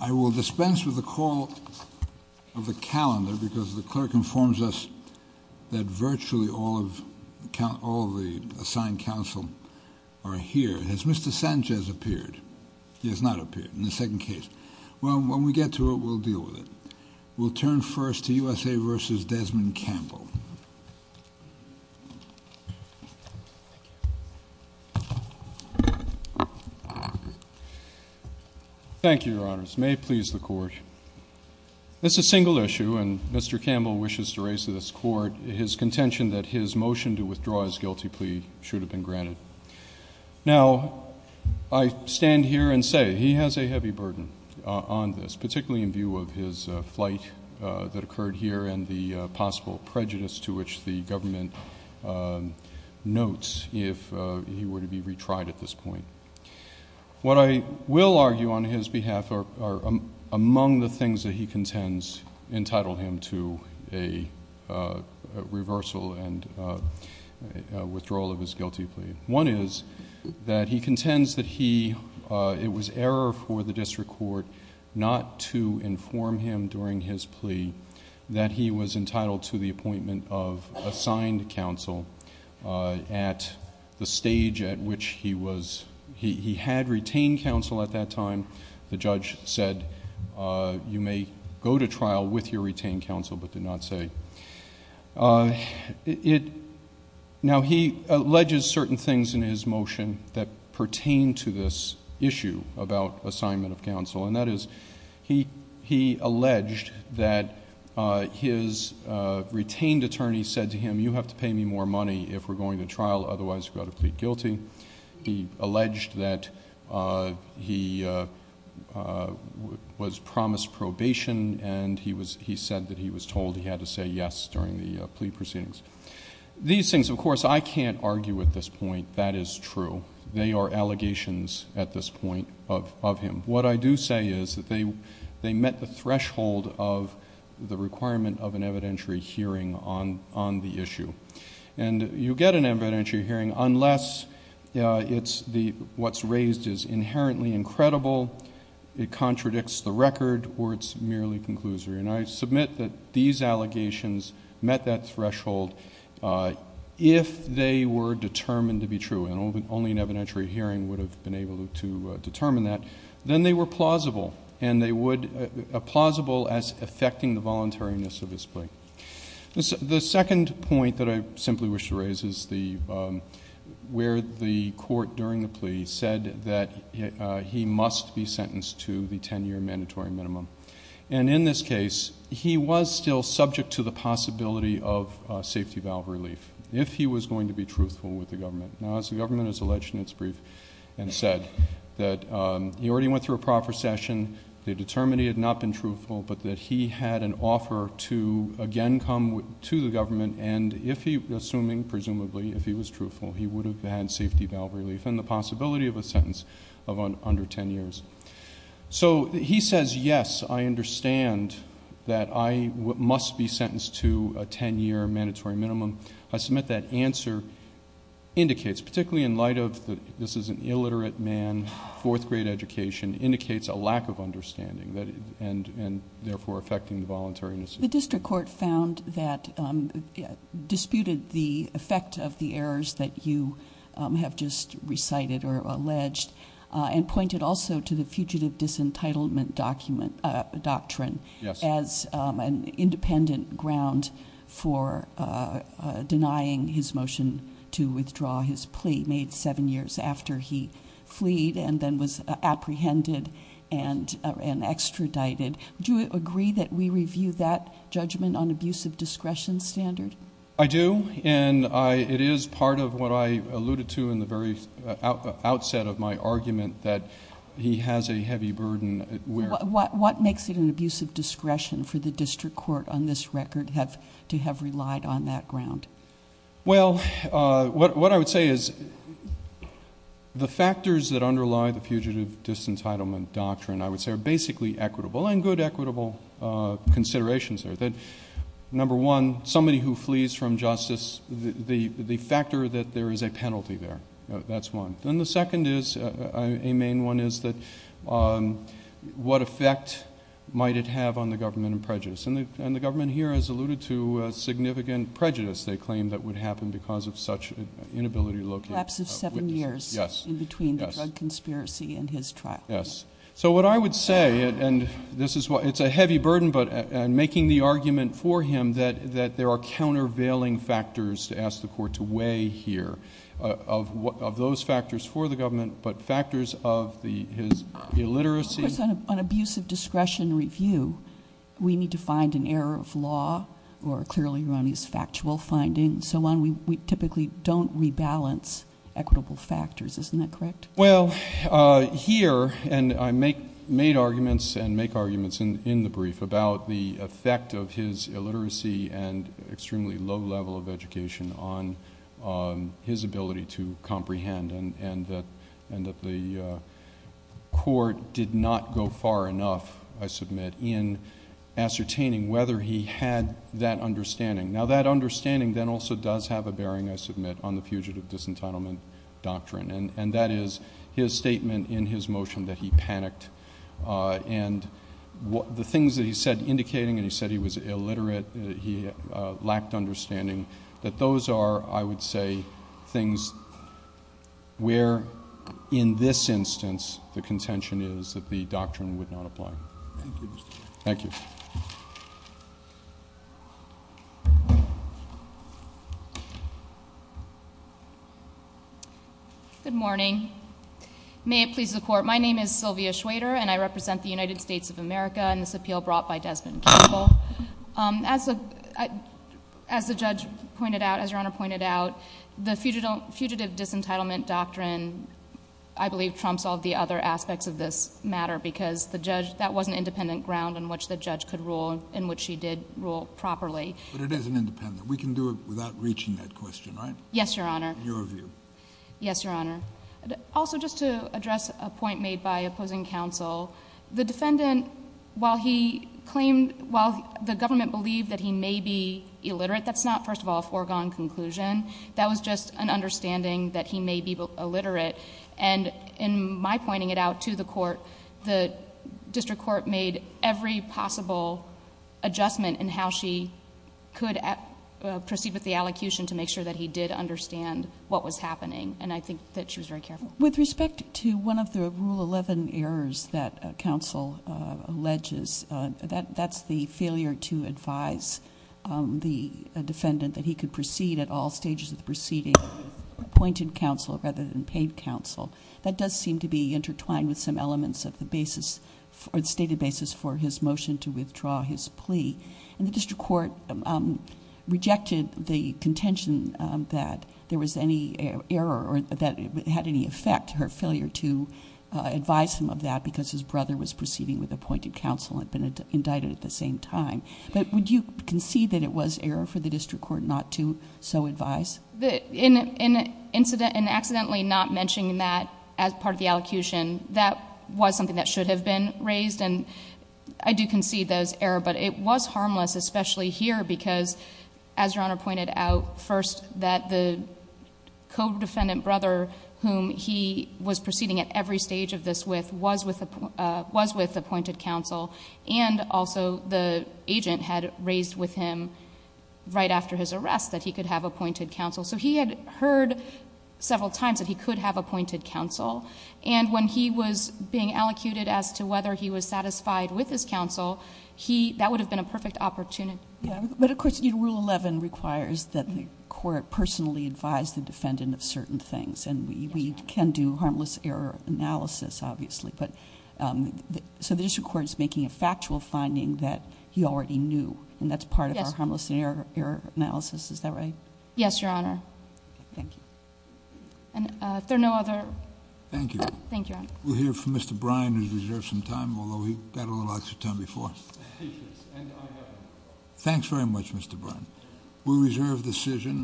I will dispense with the call of the calendar, because the clerk informs us that virtually all of the assigned counsel are here. Has Mr. Sanchez appeared? He has not appeared in the second case. Well, when we get to it, we'll deal with it. We'll turn first to USA v. Desmond Campbell. Thank you, Your Honors. May it please the Court. This is a single issue, and Mr. Campbell wishes to raise to this Court his contention that his motion to withdraw his guilty plea should have been granted. Now, I stand here and say he has a heavy burden on this, particularly in view of his flight that occurred here and the possible prejudice to which the government notes if he were to be retried at this point. What I will argue on his behalf are among the things that he contends entitled him to a reversal and withdrawal of his guilty plea. One is that he contends that it was error for the district court not to inform him during his plea that he was entitled to the appointment of assigned counsel at the stage at which he had retained counsel at that time. The judge said, you may go to trial with your retained counsel, but did not say. Now, he alleges certain things in his motion that pertain to this issue about assignment of counsel, and that is he alleged that his retained attorney said to him, you have to pay me more money if we're going to trial, otherwise you've got to plead guilty. He alleged that he was promised probation, and he said that he was told he had to say yes during the plea proceedings. These things, of course, I can't argue at this point. That is true. They are allegations at this point of him. What I do say is that they met the threshold of the requirement of an evidentiary hearing on the issue. You get an evidentiary hearing unless what's raised is inherently incredible, it contradicts the record, or it's merely conclusory. I submit that these allegations met that threshold if they were determined to be true. Only an evidentiary hearing would have been able to determine that. Then they were plausible, and they would be plausible as affecting the voluntariness of his plea. The second point that I simply wish to raise is where the court, during the plea, said that he must be sentenced to the 10-year mandatory minimum. In this case, he was still subject to the possibility of safety valve relief if he was going to be truthful with the government. Now, as the government has alleged in its brief and said, that he already went through a proper session. They determined he had not been truthful, but that he had an offer to again come to the government, and assuming, presumably, if he was truthful, he would have had safety valve relief, and the possibility of a sentence of under 10 years. He says, yes, I understand that I must be sentenced to a 10-year mandatory minimum. I submit that answer indicates, particularly in light of this is an illiterate man, fourth grade education indicates a lack of understanding, and therefore affecting the voluntariness. The district court found that, disputed the effect of the errors that you have just recited or alleged, and pointed also to the fugitive disentitlement doctrine as an independent ground for denying his motion to withdraw his plea, which he made seven years after he fleed and then was apprehended and extradited. Do you agree that we review that judgment on abuse of discretion standard? I do, and it is part of what I alluded to in the very outset of my argument that he has a heavy burden. What makes it an abuse of discretion for the district court on this record to have relied on that ground? Well, what I would say is the factors that underlie the fugitive disentitlement doctrine, I would say, are basically equitable and good equitable considerations. Number one, somebody who flees from justice, the factor that there is a penalty there, that's one. Then the second is, a main one, is what effect might it have on the government and prejudice. And the government here has alluded to significant prejudice, they claim, that would happen because of such inability to locate witnesses. A lapse of seven years in between the drug conspiracy and his trial. Yes. So what I would say, and it's a heavy burden, but in making the argument for him that there are countervailing factors to ask the court to weigh here, of those factors for the government but factors of his illiteracy. Of course, on abuse of discretion review, we need to find an error of law or clearly erroneous factual findings and so on. We typically don't rebalance equitable factors, isn't that correct? Well, here, and I made arguments and make arguments in the brief about the effect of his illiteracy and extremely low level of education on his ability to comprehend and that the court did not go far enough, I submit, in ascertaining whether he had that understanding. Now that understanding then also does have a bearing, I submit, on the Fugitive Disentitlement Doctrine and that is his statement in his motion that he panicked. And the things that he said indicating, and he said he was illiterate, he lacked understanding, that those are, I would say, things where, in this instance, the contention is that the doctrine would not apply. Thank you, Mr. Chairman. Thank you. Good morning. May it please the Court. My name is Sylvia Schwader, and I represent the United States of America in this appeal brought by Desmond Campbell. As the judge pointed out, as Your Honor pointed out, the Fugitive Disentitlement Doctrine, I believe, trumps all the other aspects of this matter because that was an independent ground on which the judge could rule and which he did rule properly. But it is an independent. We can do it without reaching that question, right? Yes, Your Honor. In your view. Yes, Your Honor. Also, just to address a point made by opposing counsel. The defendant, while he claimed, while the government believed that he may be illiterate, that's not, first of all, a foregone conclusion. That was just an understanding that he may be illiterate. And in my pointing it out to the court, the district court made every possible adjustment in how she could proceed with the allocution to make sure that he did understand what was happening. And I think that she was very careful. With respect to one of the Rule 11 errors that counsel alleges, that's the failure to advise the defendant that he could proceed at all stages of the proceeding with appointed counsel rather than paid counsel. That does seem to be intertwined with some elements of the stated basis for his motion to withdraw his plea. And the district court rejected the contention that there was any error or that it had any effect, her failure to advise him of that because his brother was proceeding with appointed counsel and had been indicted at the same time. But would you concede that it was error for the district court not to so advise? In accidentally not mentioning that as part of the allocution, that was something that should have been raised. And I do concede that it was error. But it was harmless, especially here because, as Your Honor pointed out first, that the co-defendant brother whom he was proceeding at every stage of this with was with appointed counsel and also the agent had raised with him right after his arrest that he could have appointed counsel. So he had heard several times that he could have appointed counsel. And when he was being allocated as to whether he was satisfied with his counsel, that would have been a perfect opportunity. But, of course, Rule 11 requires that the court personally advise the defendant of certain things. And we can do harmless error analysis, obviously. So the district court is making a factual finding that he already knew, and that's part of our harmless error analysis. Is that right? Yes, Your Honor. Thank you. If there are no other... Thank you. Thank you, Your Honor. We'll hear from Mr. Brine, who's reserved some time, although he got a little extra time before. Thanks very much, Mr. Brine. We reserve the decision.